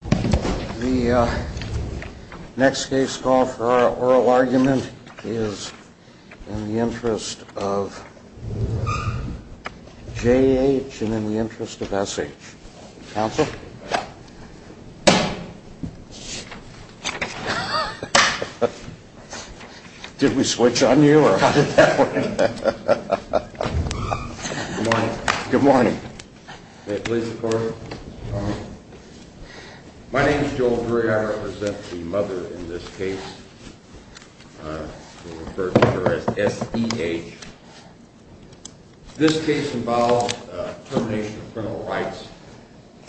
The next case call for oral argument is in the interest of J.H. and in the interest of S.H. Counsel? Did we switch on you or how did that work? Good morning. My name is Joel Curry. I represent the mother in this case. This case involves termination of criminal rights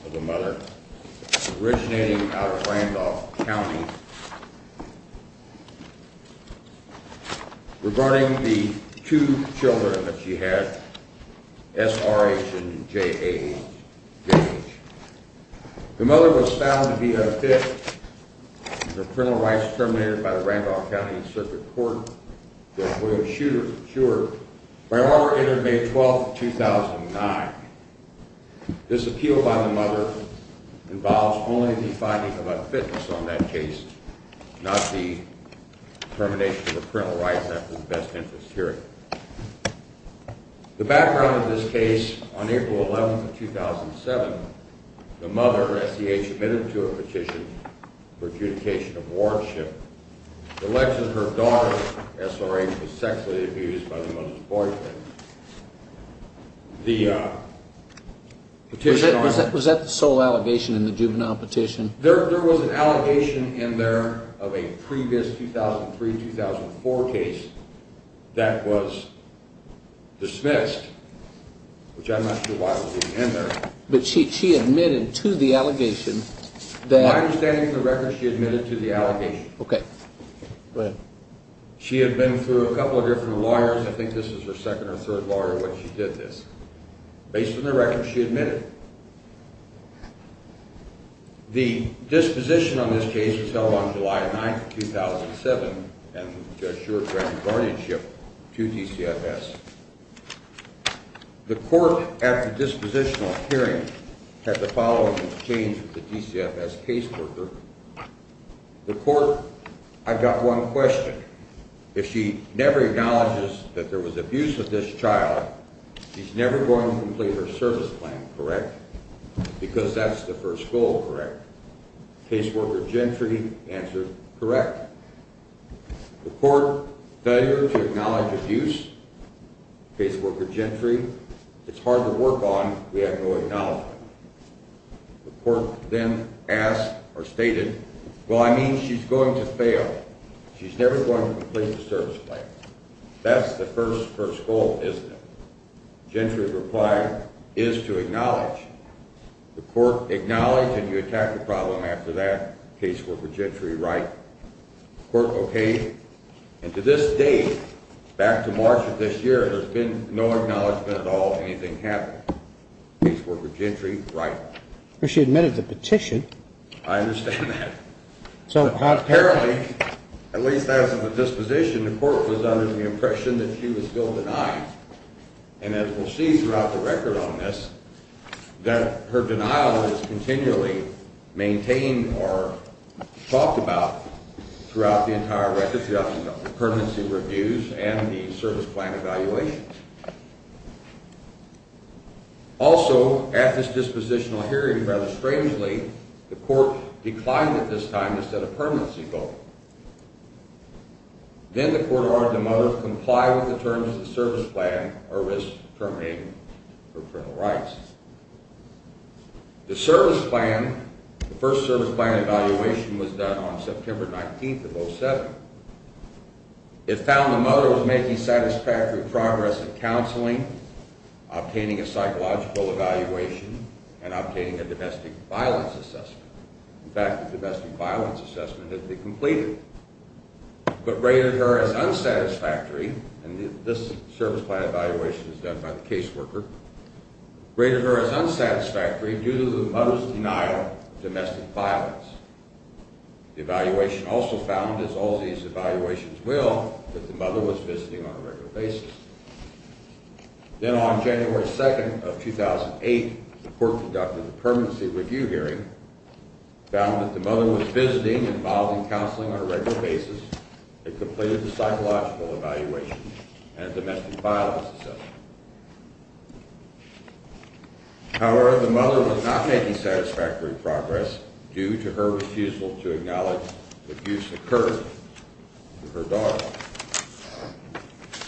of the mother originating out of Randolph County. Regarding the two children that she had, S.R.H. and J.H. The mother was found to be unfit for criminal rights terminated by the Randolph County Circuit Court to avoid a shooter for sure by an order entered May 12, 2009. This appeal by the mother involves only the finding of unfitness on that case, not the termination of criminal rights after the best interest hearing. The background of this case, on April 11, 2007, the mother, S.H. admitted to a petition for adjudication of wardship. The legend her daughter, S.R.H. was sexually abused by the mother's boyfriend. Was that the sole allegation in the juvenile petition? There was an allegation in there of a previous 2003-2004 case that was dismissed, which I'm not sure why it was even in there. But she admitted to the allegation that... From my understanding of the record, she admitted to the allegation. Okay. Go ahead. She had been through a couple of different lawyers. I think this was her second or third lawyer when she did this. Based on the record, she admitted. The disposition on this case was held on July 9, 2007, and the judge assured granted guardianship to DCFS. The court, at the dispositional hearing, had the following exchange with the DCFS caseworker. The court, I got one question. If she never acknowledges that there was abuse of this child, she's never going to complete her service plan, correct? Because that's the first goal, correct? Caseworker Gentry answered, correct. The court failure to acknowledge abuse, caseworker Gentry, it's hard to work on. We have no acknowledgement. The court then asked or stated, well, I mean, she's going to fail. She's never going to complete the service plan. That's the first, first goal, isn't it? Gentry replied, is to acknowledge. The court acknowledged, and you attacked the problem after that, caseworker Gentry, right? The court okayed. And to this day, back to March of this year, there's been no acknowledgement at all of anything happening. Caseworker Gentry, right. Well, she admitted to the petition. I understand that. So apparently, at least as of the disposition, the court was under the impression that she was still denied. And as we'll see throughout the record on this, that her denial is continually maintained or talked about throughout the entire record, throughout the permanency reviews and the service plan evaluation. Also, at this dispositional hearing, rather strangely, the court declined at this time to set a permanency goal. Then the court ordered the mother to comply with the terms of the service plan or risk terminating her parental rights. The service plan, the first service plan evaluation was done on September 19th of 07. It found the mother was making satisfactory progress in counseling, obtaining a psychological evaluation, and obtaining a domestic violence assessment. In fact, the domestic violence assessment had been completed. But rated her as unsatisfactory, and this service plan evaluation is done by the caseworker, rated her as unsatisfactory due to the mother's denial of domestic violence. The evaluation also found, as all these evaluations will, that the mother was visiting on a regular basis. Then on January 2nd of 2008, the court conducted a permanency review hearing, found that the mother was visiting and involving counseling on a regular basis, and completed the psychological evaluation and domestic violence assessment. However, the mother was not making satisfactory progress due to her refusal to acknowledge the abuse occurred to her daughter.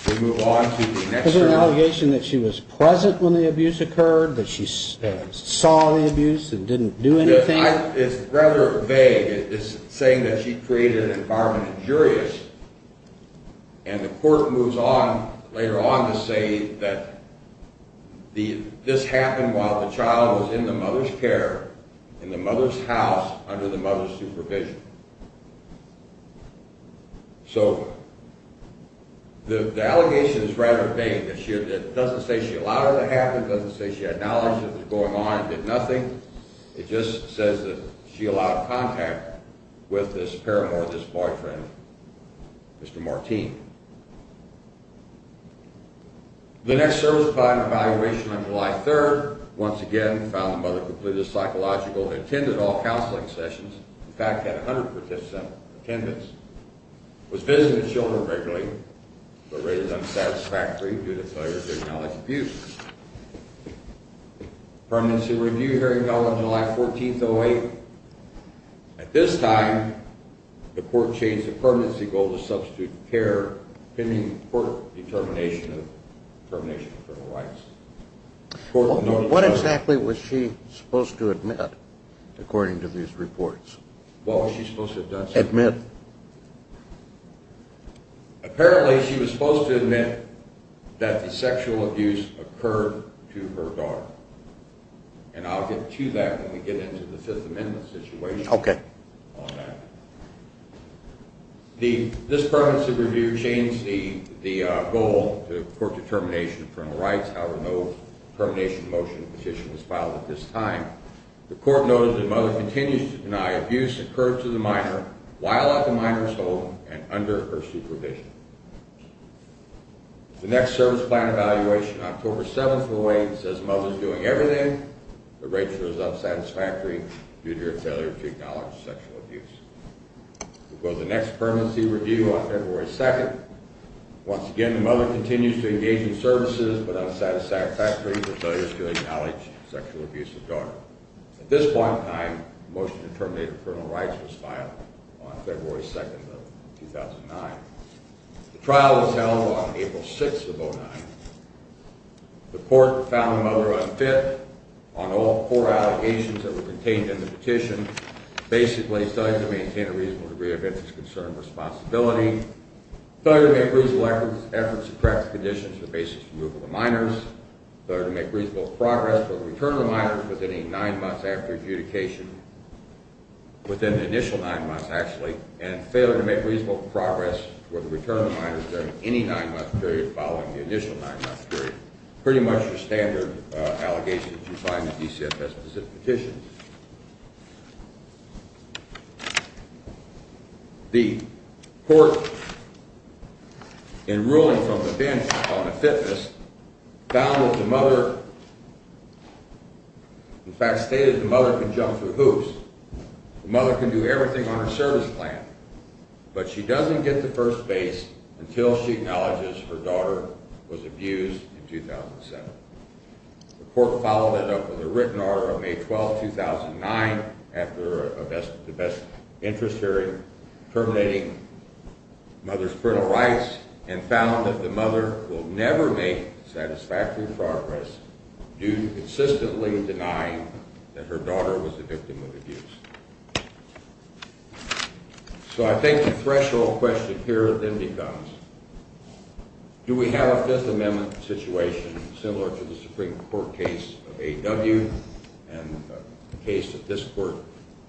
We move on to the next hearing. Is it an allegation that she was present when the abuse occurred, that she saw the abuse and didn't do anything? It's rather vague. It's saying that she created an environment of jury. And the court moves on later on to say that this happened while the child was in the mother's care, in the mother's house, under the mother's supervision. So the allegation is rather vague. It doesn't say she allowed it to happen, it doesn't say she acknowledged it was going on and did nothing. It just says that she allowed contact with this paramour, this boyfriend, Mr. Martine. The next service provided an evaluation on July 3rd. Once again, found the mother completed the psychological and attended all counseling sessions. In fact, had 100% attendance. Was visiting the children regularly, but rated unsatisfactory due to failure to acknowledge abuse. Permanency review hearing held on July 14th, 2008. At this time, the court changed the permanency goal to substitute care pending court determination of criminal rights. What exactly was she supposed to admit, according to these reports? What was she supposed to have done? Admit. Apparently, she was supposed to admit that the sexual abuse occurred to her daughter. And I'll get to that when we get into the Fifth Amendment situation. This permanency review changed the goal to court determination of criminal rights. However, no termination motion petition was filed at this time. The court noted that the mother continues to deny abuse occurred to the minor while at the minor's home and under her supervision. The next service plan evaluation, October 7th, 2008, says the mother is doing everything, but rated as unsatisfactory due to her failure to acknowledge sexual abuse. The next permanency review on February 2nd. Once again, the mother continues to engage in services, but unsatisfactory due to her failure to acknowledge sexual abuse of the daughter. At this point in time, the motion to terminate criminal rights was filed on February 2nd of 2009. The trial was held on April 6th of 2009. The court found the mother unfit on all four allegations that were contained in the petition. Basically, failure to maintain a reasonable degree of interest, concern, and responsibility. Failure to make reasonable efforts to correct the conditions for the basis of removal of the minors. Failure to make reasonable progress for the return of the minors within the nine months after adjudication. Within the initial nine months, actually. And failure to make reasonable progress for the return of the minors during any nine-month period following the initial nine-month period. Pretty much the standard allegations you find in DCFS-specific petitions. The court, in ruling from the bench on a fitness, found that the mother, in fact stated the mother can jump through hoops. The mother can do everything on her service plan. But she doesn't get to first base until she acknowledges her daughter was abused in 2007. The court followed that up with a written order on May 12th, 2009, after a best-of-the-best interest hearing, terminating mother's parental rights, and found that the mother will never make satisfactory progress due to consistently denying that her daughter was the victim of abuse. So I think the threshold question here then becomes, do we have a Fifth Amendment situation similar to the Supreme Court case of A.W. and the case that this court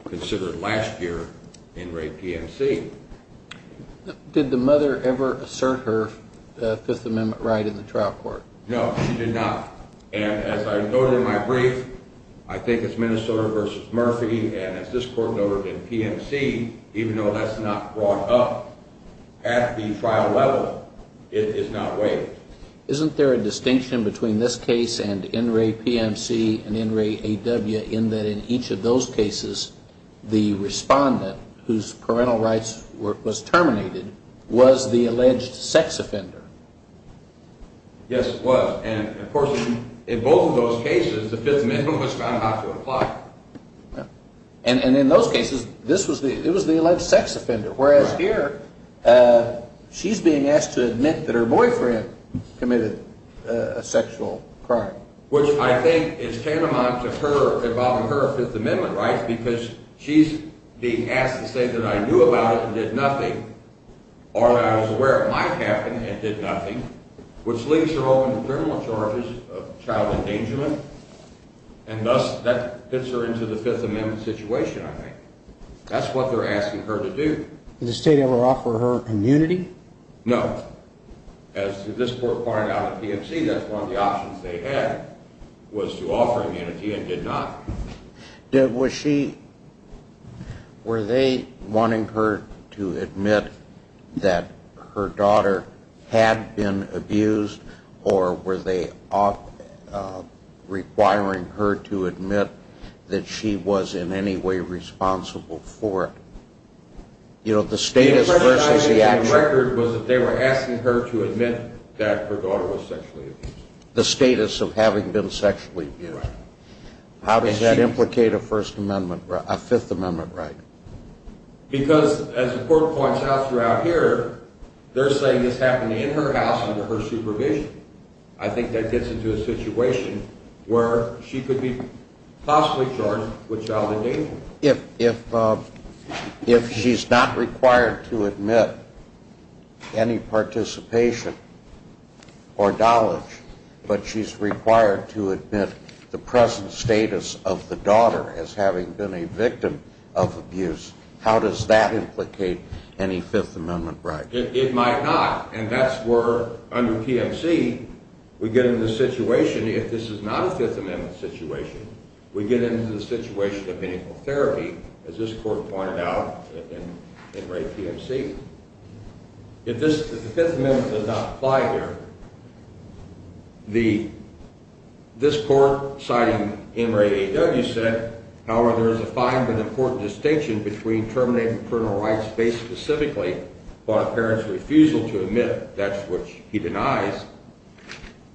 considered last year in Ray P.M.C.? Did the mother ever assert her Fifth Amendment right in the trial court? No, she did not. And as I noted in my brief, I think it's Minnesota v. Murphy, and as this court noted in P.M.C., even though that's not brought up at the trial level, it is not waived. Isn't there a distinction between this case and N. Ray P.M.C. and N. Ray A.W. in that in each of those cases the respondent whose parental rights was terminated was the alleged sex offender? Yes, it was. And, of course, in both of those cases the Fifth Amendment was found not to apply. And in those cases it was the alleged sex offender, whereas here she's being asked to admit that her boyfriend committed a sexual crime. Which I think is tantamount to her involving her Fifth Amendment rights because she's being asked to say that I knew about it and did nothing, or that I was aware it might happen and did nothing, which leaves her open to criminal charges of child endangerment, and thus that fits her into the Fifth Amendment situation, I think. That's what they're asking her to do. Did the state ever offer her immunity? No. As this court pointed out at P.M.C., that's one of the options they had was to offer immunity and did not. Was she, were they wanting her to admit that her daughter had been abused or were they requiring her to admit that she was in any way responsible for it? You know, the status versus the action. The question I made in the record was that they were asking her to admit that her daughter was sexually abused. The status of having been sexually abused. How does that implicate a Fifth Amendment right? Because, as the court points out throughout here, they're saying this happened in her house under her supervision. I think that gets into a situation where she could be possibly charged with child endangerment. If she's not required to admit any participation or knowledge, but she's required to admit the present status of the daughter as having been a victim of abuse, how does that implicate any Fifth Amendment right? It might not, and that's where, under P.M.C., we get into the situation, if this is not a Fifth Amendment situation, we get into the situation of medical therapy, as this court pointed out in RAE P.M.C. If the Fifth Amendment does not apply here, this court, citing NRAAW, said, however, there is a fine but important distinction between terminating criminal rights based specifically upon a parent's refusal to admit, that's which he denies,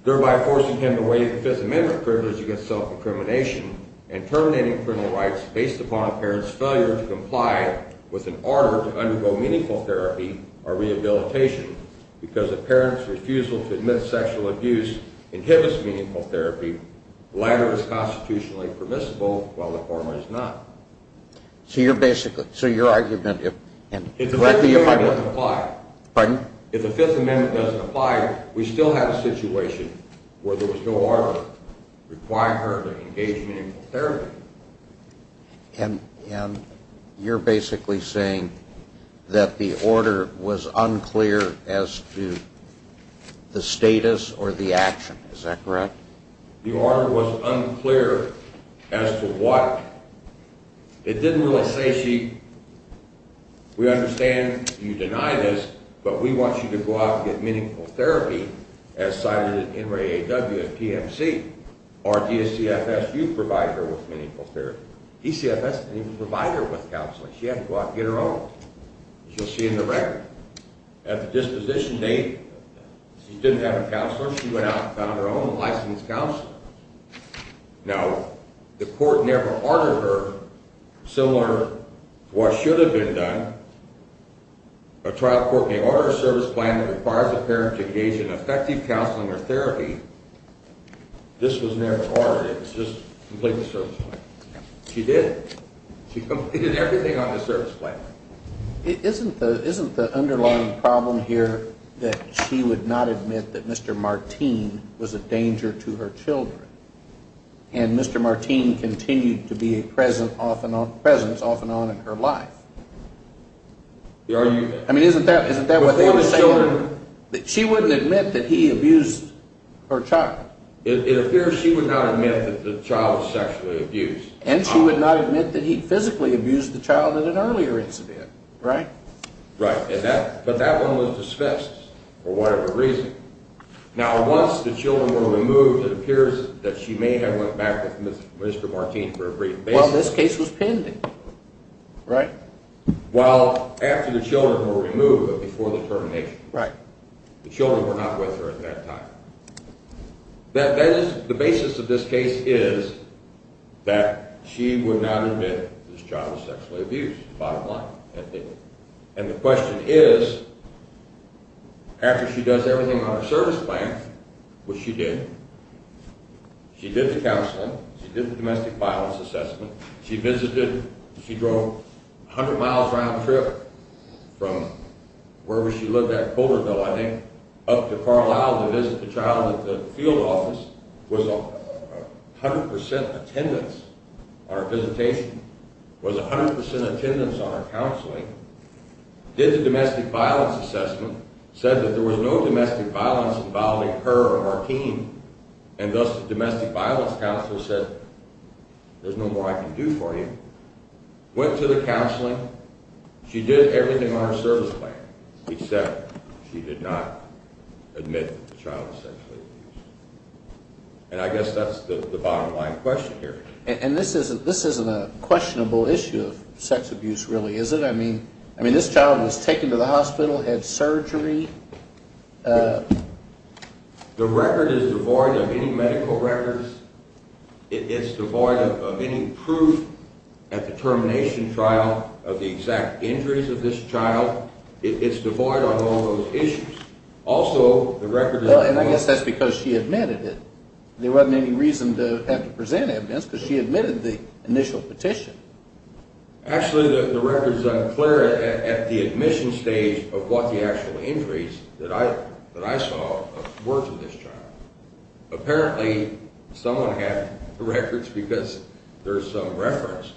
thereby forcing him to waive the Fifth Amendment privilege against self-incrimination and terminating criminal rights based upon a parent's failure to comply with an order to undergo meaningful therapy or rehabilitation because a parent's refusal to admit sexual abuse inhibits meaningful therapy. The latter is constitutionally permissible while the former is not. So you're basically, so your argument, if, and, If the Fifth Amendment doesn't apply, if the Fifth Amendment doesn't apply, we still have a situation where there was no order requiring her to engage in meaningful therapy. And you're basically saying that the order was unclear as to the status or the action, is that correct? The order was unclear as to what? It didn't really say she, we understand you deny this, but we want you to go out and get meaningful therapy, as cited in NRAAW and P.M.C., or DCFS, you provide her with meaningful therapy. DCFS didn't even provide her with counseling. She had to go out and get her own, as you'll see in the record. At the disposition date, she didn't have a counselor. She went out and found her own licensed counselor. Now, the court never ordered her similar to what should have been done. A trial court may order a service plan that requires a parent to engage in effective counseling or therapy. This was never ordered. It was just complete the service plan. She did. She completed everything on the service plan. Isn't the underlying problem here that she would not admit that Mr. Marteen was a danger to her children, and Mr. Marteen continued to be a presence off and on in her life? I mean, isn't that what they would say? Before the children? She wouldn't admit that he abused her child. It appears she would not admit that the child was sexually abused. And she would not admit that he physically abused the child in an earlier incident, right? Right, but that one was dismissed for whatever reason. Now, once the children were removed, it appears that she may have went back with Mr. Marteen for a brief basis. Well, this case was pending, right? Well, after the children were removed, but before the termination. Right. The children were not with her at that time. The basis of this case is that she would not admit this child was sexually abused, bottom line. And the question is, after she does everything on her service plan, which she did, she did the counseling, she did the domestic violence assessment, she visited, she drove 100 miles round trip from wherever she lived at in Boulderville, I think, up to Carlisle to visit the child at the field office, was 100% attendance on her visitation, was 100% attendance on her counseling, did the domestic violence assessment, said that there was no domestic violence involving her or Marteen, and thus the domestic violence counselor said, there's no more I can do for you, went to the counseling, she did everything on her service plan, except she did not admit the child was sexually abused. And I guess that's the bottom line question here. And this isn't a questionable issue of sex abuse, really, is it? I mean, this child was taken to the hospital, had surgery. The record is devoid of any medical records. It's devoid of any proof at the termination trial of the exact injuries of this child. It's devoid of all those issues. Also, the record is... And I guess that's because she admitted it. There wasn't any reason to have to present evidence because she admitted the initial petition. Actually, the record is unclear at the admission stage of what the actual injuries that I saw were to this child. Apparently, someone had the records because there's some reference,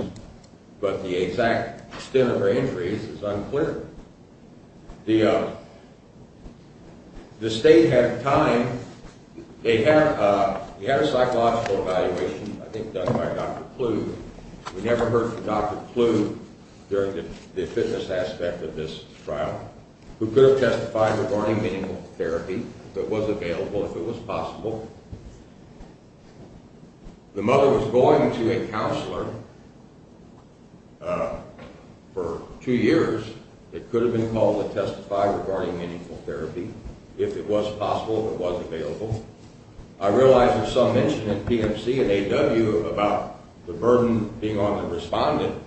but the exact extent of her injuries is unclear. The state had time. They had a psychological evaluation, I think done by Dr. Kluge. We never heard from Dr. Kluge during the fitness aspect of this trial. Who could have testified regarding meaningful therapy, but was available if it was possible. The mother was going to a counselor for two years. It could have been called to testify regarding meaningful therapy. If it was possible, it was available. I realize there's some mention at PMC and AW about the burden being on the respondent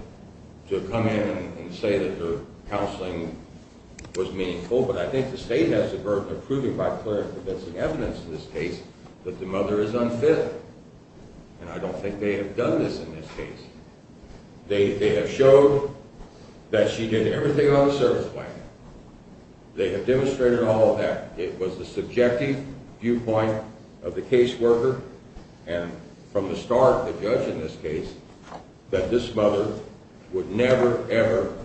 to come in and say that her counseling was meaningful, but I think the state has the burden of proving by clear and convincing evidence in this case that the mother is unfit. And I don't think they have done this in this case. They have showed that she did everything on the service plan. They have demonstrated all of that. It was the subjective viewpoint of the caseworker, and from the start, the judge in this case, that this mother would never, ever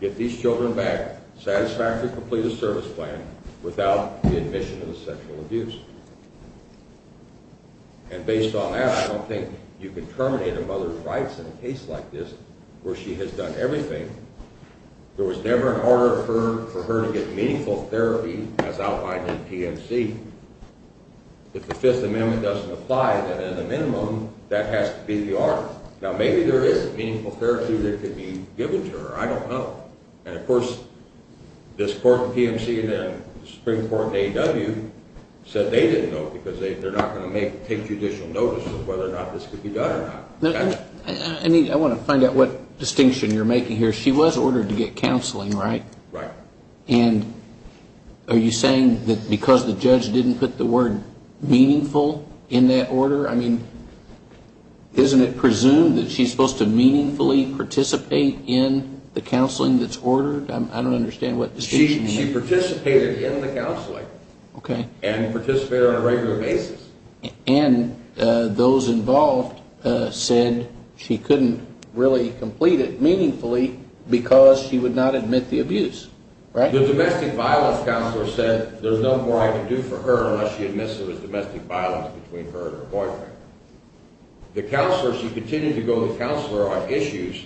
get these children back, satisfactorily complete a service plan without the admission of the sexual abuse. And based on that, I don't think you can terminate a mother's rights in a case like this, where she has done everything. There was never an order for her to get meaningful therapy, as outlined in PMC. If the Fifth Amendment doesn't apply, then in the minimum, that has to be the order. Now, maybe there is meaningful therapy that could be given to her. I don't know. And of course, this court in PMC and the Supreme Court in AW said they didn't know because they're not going to take judicial notice of whether or not this could be done or not. I want to find out what distinction you're making here. She was ordered to get counseling, right? Right. And are you saying that because the judge didn't put the word meaningful in that order? I mean, isn't it presumed that she's supposed to meaningfully participate in the counseling that's ordered? I don't understand what the distinction is. She participated in the counseling. Okay. And participated on a regular basis. And those involved said she couldn't really complete it meaningfully because she would not admit the abuse, right? The domestic violence counselor said there's nothing more I can do for her unless she admits there was domestic violence between her and her boyfriend. The counselor, she continued to go to the counselor on issues,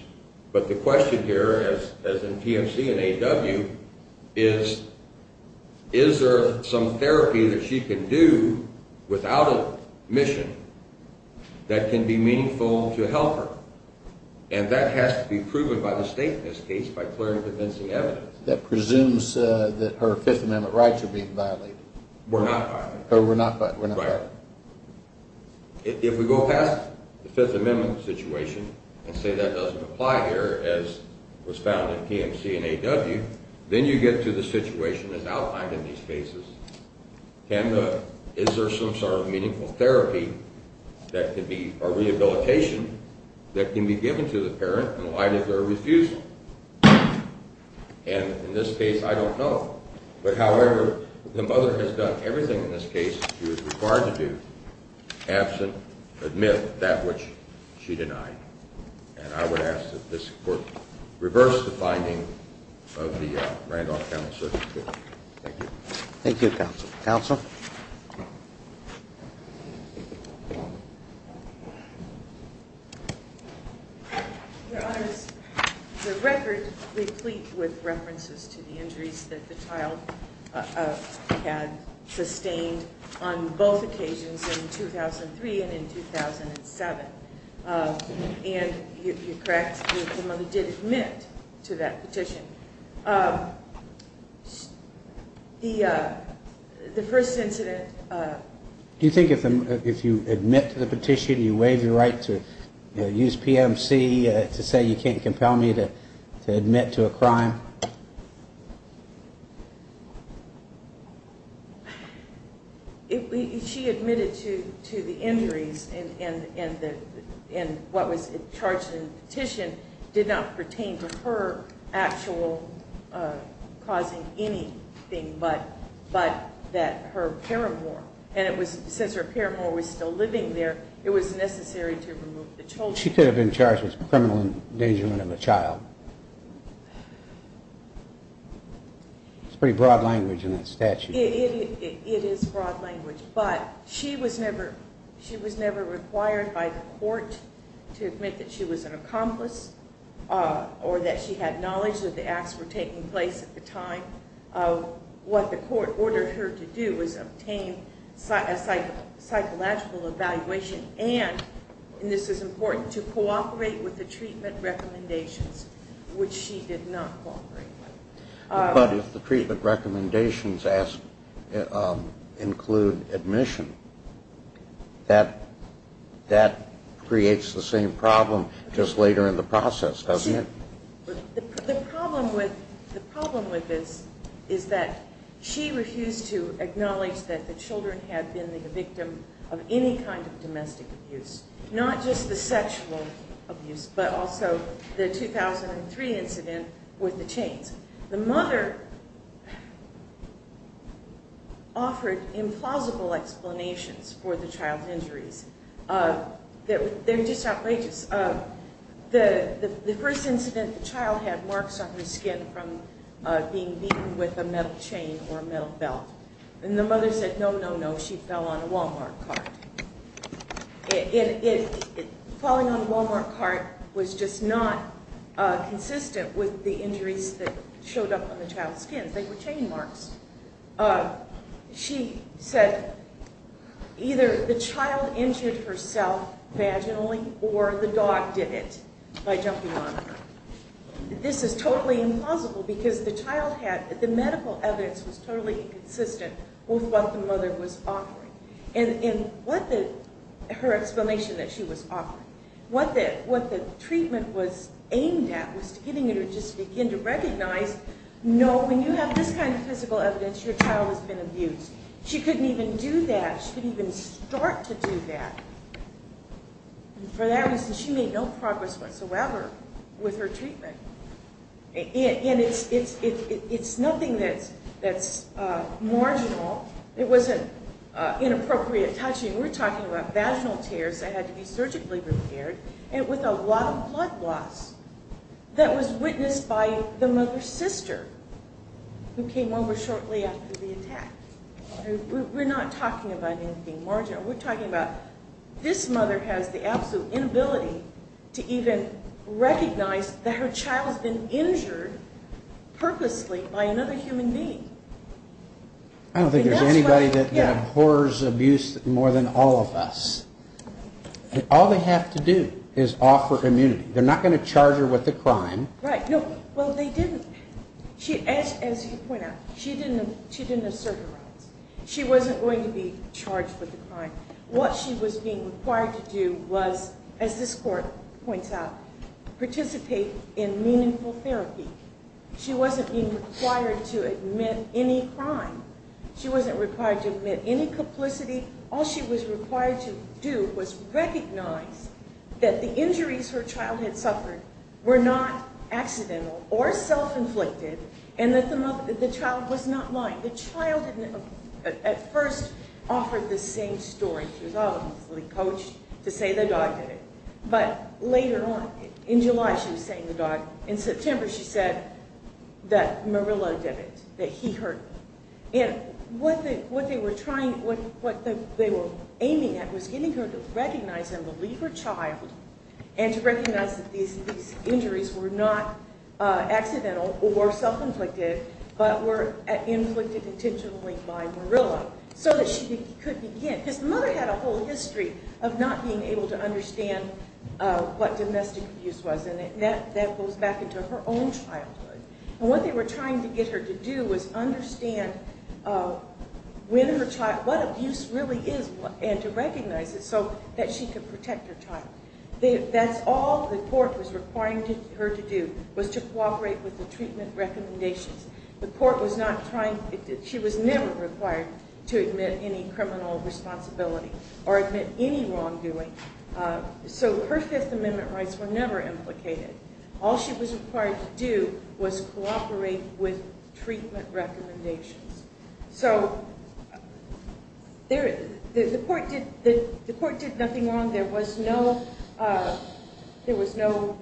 but the question here, as in PMC and AW, is is there some therapy that she can do without admission that can be meaningful to help her? And that has to be proven by the state in this case by clearing and convincing evidence. That presumes that her Fifth Amendment rights are being violated. We're not violating them. We're not violating them. Right. If we go past the Fifth Amendment situation and say that doesn't apply here as was found in PMC and AW, then you get to the situation as outlined in these cases. Can the, is there some sort of meaningful therapy that could be a rehabilitation that can be given to the parent and why did they refuse it? And in this case, I don't know. But, however, the mother has done everything in this case she was required to do absent admit that which she denied. And I would ask that this Court reverse the finding of the Randolph County Circuit. Thank you. Thank you, Counsel. Counsel? Your Honors, the record replete with references to the injuries that the child had sustained on both occasions in 2003 and in 2007. And you're correct, the mother did admit to that petition. The first incident. Do you think if you admit to the petition, you waive your right to use PMC to say you can't compel me to admit to a crime? Your Honor? She admitted to the injuries and what was charged in the petition did not pertain to her actual causing anything but that her paramour, and since her paramour was still living there, it was necessary to remove the children. She could have been charged with criminal endangerment of a child. It's pretty broad language in that statute. It is broad language. But she was never required by the Court to admit that she was an accomplice or that she had knowledge that the acts were taking place at the time. What the Court ordered her to do was obtain a psychological evaluation. And, and this is important, to cooperate with the treatment recommendations, which she did not cooperate with. But if the treatment recommendations include admission, that creates the same problem just later in the process, doesn't it? The problem with this is that she refused to acknowledge that the children had been the victim of any kind of domestic abuse. Not just the sexual abuse, but also the 2003 incident with the chains. The mother offered implausible explanations for the child's injuries. They're just outrageous. The first incident, the child had marks on her skin from being beaten with a metal chain or a metal belt. And the mother said, no, no, no, she fell on a Walmart cart. Falling on a Walmart cart was just not consistent with the injuries that showed up on the child's skin. They were chain marks. She said either the child injured herself vaginally or the dog did it by jumping on her. This is totally implausible because the child had, the medical evidence was totally inconsistent with what the mother was offering. And, and what the, her explanation that she was offering, what the, what the treatment was aimed at, was getting her to just begin to recognize, no, when you have this kind of physical evidence, your child has been abused. She couldn't even do that. She couldn't even start to do that. And for that reason, she made no progress whatsoever with her treatment. And it's, it's, it's, it's nothing that's, that's marginal. It wasn't inappropriate touching. We're talking about vaginal tears that had to be surgically repaired and with a lot of blood loss that was witnessed by the mother's sister who came over shortly after the attack. We're not talking about anything marginal. We're talking about this mother has the absolute inability to even recognize that her child has been injured purposely by another human being. I don't think there's anybody that, that abhors abuse more than all of us. All they have to do is offer immunity. They're not going to charge her with a crime. Right, no, well they didn't. She, as, as you point out, she didn't, she didn't assert her rights. She wasn't going to be charged with a crime. What she was being required to do was, as this court points out, participate in meaningful therapy. She wasn't being required to admit any crime. She wasn't required to admit any complicity. All she was required to do was recognize that the injuries her child had suffered were not accidental or self-inflicted and that the child was not lying. The child at first offered the same story. She was obviously coached to say the dog did it. But later on, in July she was saying the dog, in September she said that Murillo did it, that he hurt her. And what they, what they were trying, what, what they were aiming at was getting her to recognize and believe her child and to recognize that these, these injuries were not accidental or self-inflicted, but were inflicted intentionally by Murillo so that she could begin. And his mother had a whole history of not being able to understand what domestic abuse was. And that, that goes back into her own childhood. And what they were trying to get her to do was understand when her child, what abuse really is and to recognize it so that she could protect her child. That's all the court was requiring her to do, was to cooperate with the treatment recommendations. The court was not trying, she was never required to admit any criminal responsibility or admit any wrongdoing. So her Fifth Amendment rights were never implicated. All she was required to do was cooperate with treatment recommendations. So there, the court did, the court did nothing wrong. There was no, there was no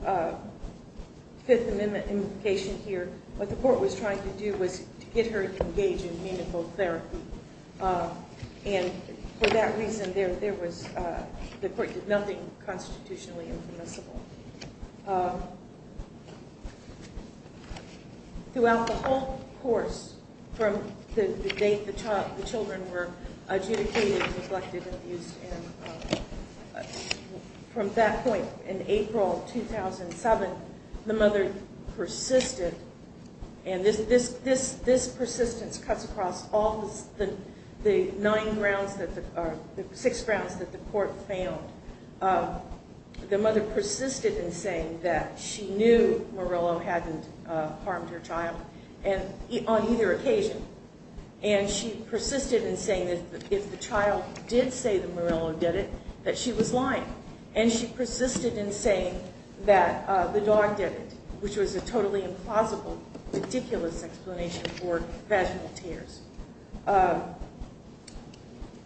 Fifth Amendment implication here. What the court was trying to do was to get her to engage in meaningful therapy. And for that reason there, there was, the court did nothing constitutionally infamous about it. Throughout the whole course from the date the child, the children were adjudicated, neglected, abused, and from that point in April 2007, the mother persisted. And this, this, this, this persistence cuts across all the nine grounds that the, or six grounds that the court found. The mother persisted in saying that she knew Morello hadn't harmed her child and on either occasion. And she persisted in saying that if the child did say that Morello did it, that she was lying. And she persisted in saying that the dog did it, which was a totally implausible, ridiculous explanation for vaginal tears.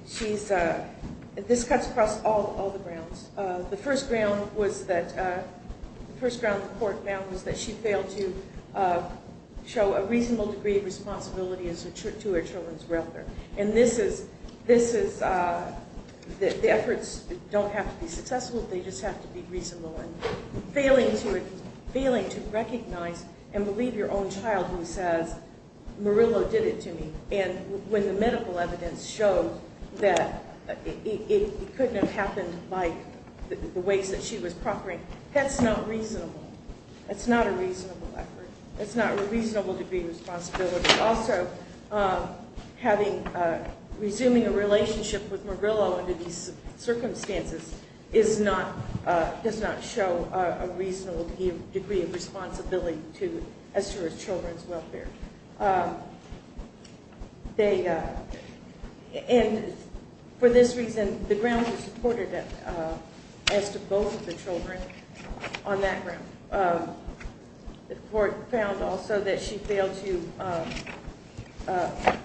She's, this cuts across all the grounds. The first ground was that, the first ground the court found was that she failed to show a reasonable degree of responsibility as a, to her children's mother. And this is, this is, the efforts don't have to be successful. They just have to be reasonable and failing to, failing to recognize and believe your own child who says, Morello did it to me. And when the medical evidence showed that it couldn't have happened by the ways that she was proffering, that's not reasonable. That's not a reasonable effort. That's not a reasonable degree of responsibility. But also, having, resuming a relationship with Morello under these circumstances is not, does not show a reasonable degree of responsibility to, as to her children's welfare. They, and for this reason, the grounds were supported as to both of the children on that ground. The court found also that she failed to make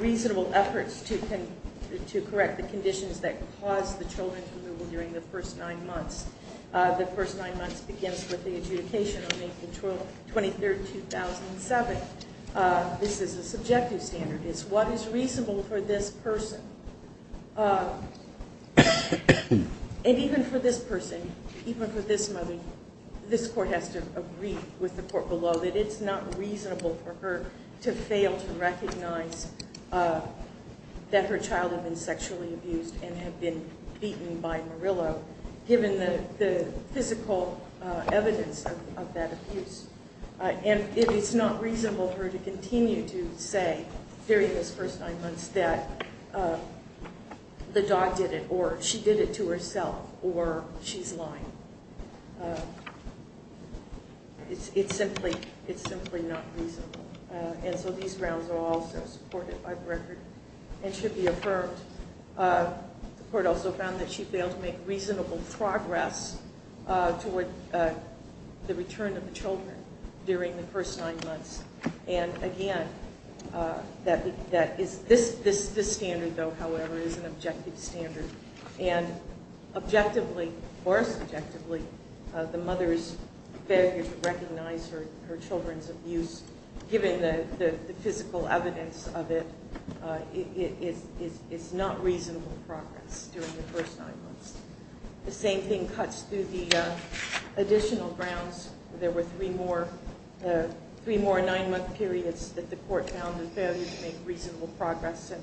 reasonable efforts to correct the conditions that caused the children's removal during the first nine months. The first nine months begins with the adjudication on April 23rd, 2007. This is a subjective standard. It's what is reasonable for this person. And even for this person, even for this mother, this court has to agree with the court below that it's not reasonable for her to fail to recognize that her child had been sexually abused and had been beaten by Morello, given the physical evidence of that abuse. And it's not reasonable for her to continue to say, during those first nine months, that the dog did it, or she did it to herself, or she's lying. It's simply, it's simply not reasonable. And so these grounds are also supported by the record and should be affirmed. The court also found that she failed to make reasonable progress toward the return of the children during the first nine months. And again, this standard, though, however, is an objective standard. And objectively, or subjectively, the mother's failure to recognize her children's abuse, given the physical evidence of it, is not reasonable progress during the first nine months. The same thing cuts through the additional grounds. There were three more nine-month periods that the court found a failure to make reasonable progress, and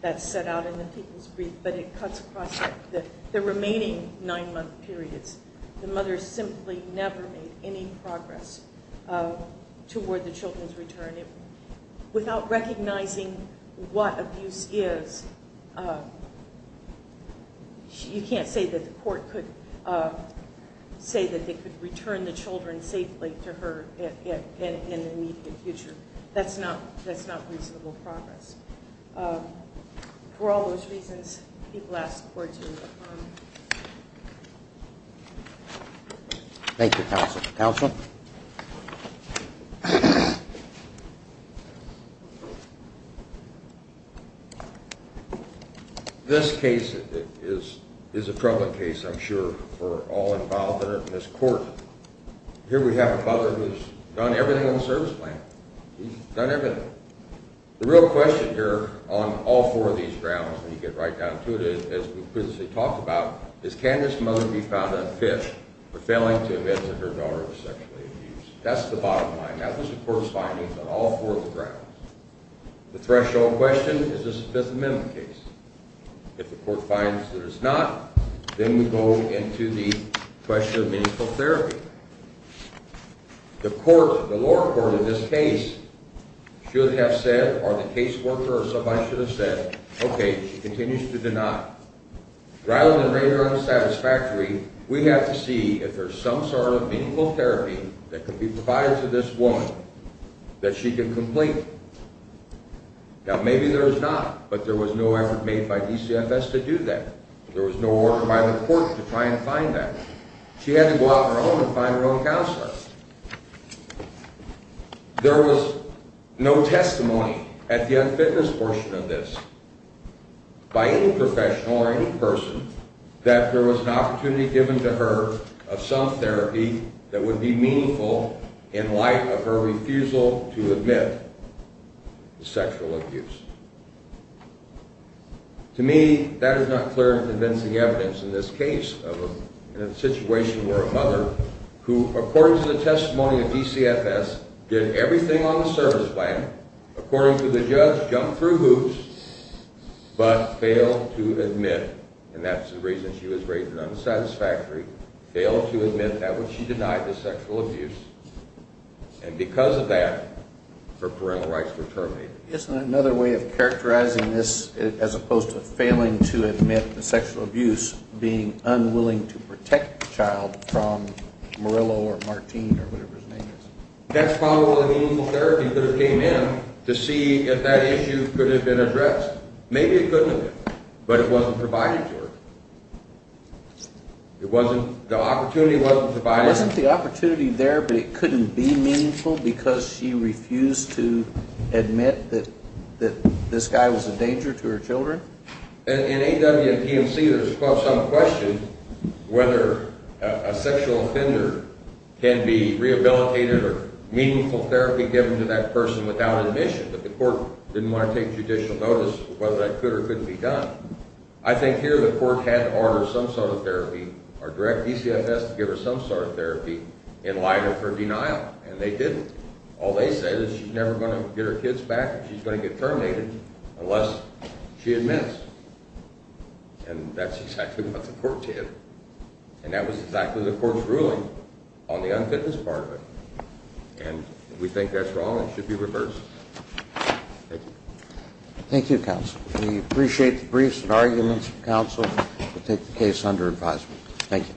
that's set out in the people's brief. But it cuts across the remaining nine-month periods. The mother simply never made any progress toward the children's return. Without recognizing what abuse is, you can't say that the court could say that they could return the children safely to her in the immediate future. That's not reasonable progress. For all those reasons, people ask the court to affirm. Thank you, counsel. Counsel? This case is a prevalent case, I'm sure, for all involved in it in this court. Here we have a father who's done everything on the service plan. He's done everything. The real question here on all four of these grounds, when you get right down to it, as we previously talked about, is can this mother be found unfit for failing to admit that her daughter was sexually abused? That's the bottom line. That was the court's findings on all four of the grounds. The threshold question, is this a Fifth Amendment case? If the court finds that it's not, then we go into the question of meaningful therapy. The lower court in this case should have said, or the caseworker or somebody should have said, okay, she continues to deny. Rather than render her unsatisfactory, we have to see if there's some sort of meaningful therapy that could be provided to this woman that she could complete. Now, maybe there's not, but there was no effort made by DCFS to do that. There was no order by the court to try and find that. She had to go out on her own and find her own counselor. There was no testimony at the unfitness portion of this by any professional or any person that there was an opportunity given to her of some therapy that would be meaningful in light of her refusal to admit the sexual abuse. To me, that is not clear and convincing evidence in this case of a situation where a mother who, according to the testimony of DCFS, did everything on the service plan, according to the judge, jumped through hoops, but failed to admit, and that's the reason she was rated unsatisfactory, failed to admit that which she denied, the sexual abuse, and because of that, her parental rights were terminated. Isn't another way of characterizing this, as opposed to failing to admit the sexual abuse, being unwilling to protect the child from Murillo or Martine or whatever his name is? That's probably the meaningful therapy that came in to see if that issue could have been addressed. Maybe it couldn't have been, but it wasn't provided to her. The opportunity wasn't provided. Wasn't the opportunity there, but it couldn't be meaningful because she refused to admit that this guy was a danger to her children? In AW and PMC, there's some question whether a sexual offender can be rehabilitated or meaningful therapy given to that person without admission, that the court didn't want to take judicial notice of whether that could or couldn't be done. I think here the court had to order some sort of therapy or direct DCFS to give her some sort of therapy in light of her denial, and they didn't. All they said is she's never going to get her kids back and she's going to get terminated unless she admits, and that's exactly what the court did, and that was exactly the court's ruling on the unfitness part of it, and if we think that's wrong, it should be reversed. Thank you. Thank you, counsel. We appreciate the briefs and arguments from counsel to take the case under advisement. Thank you.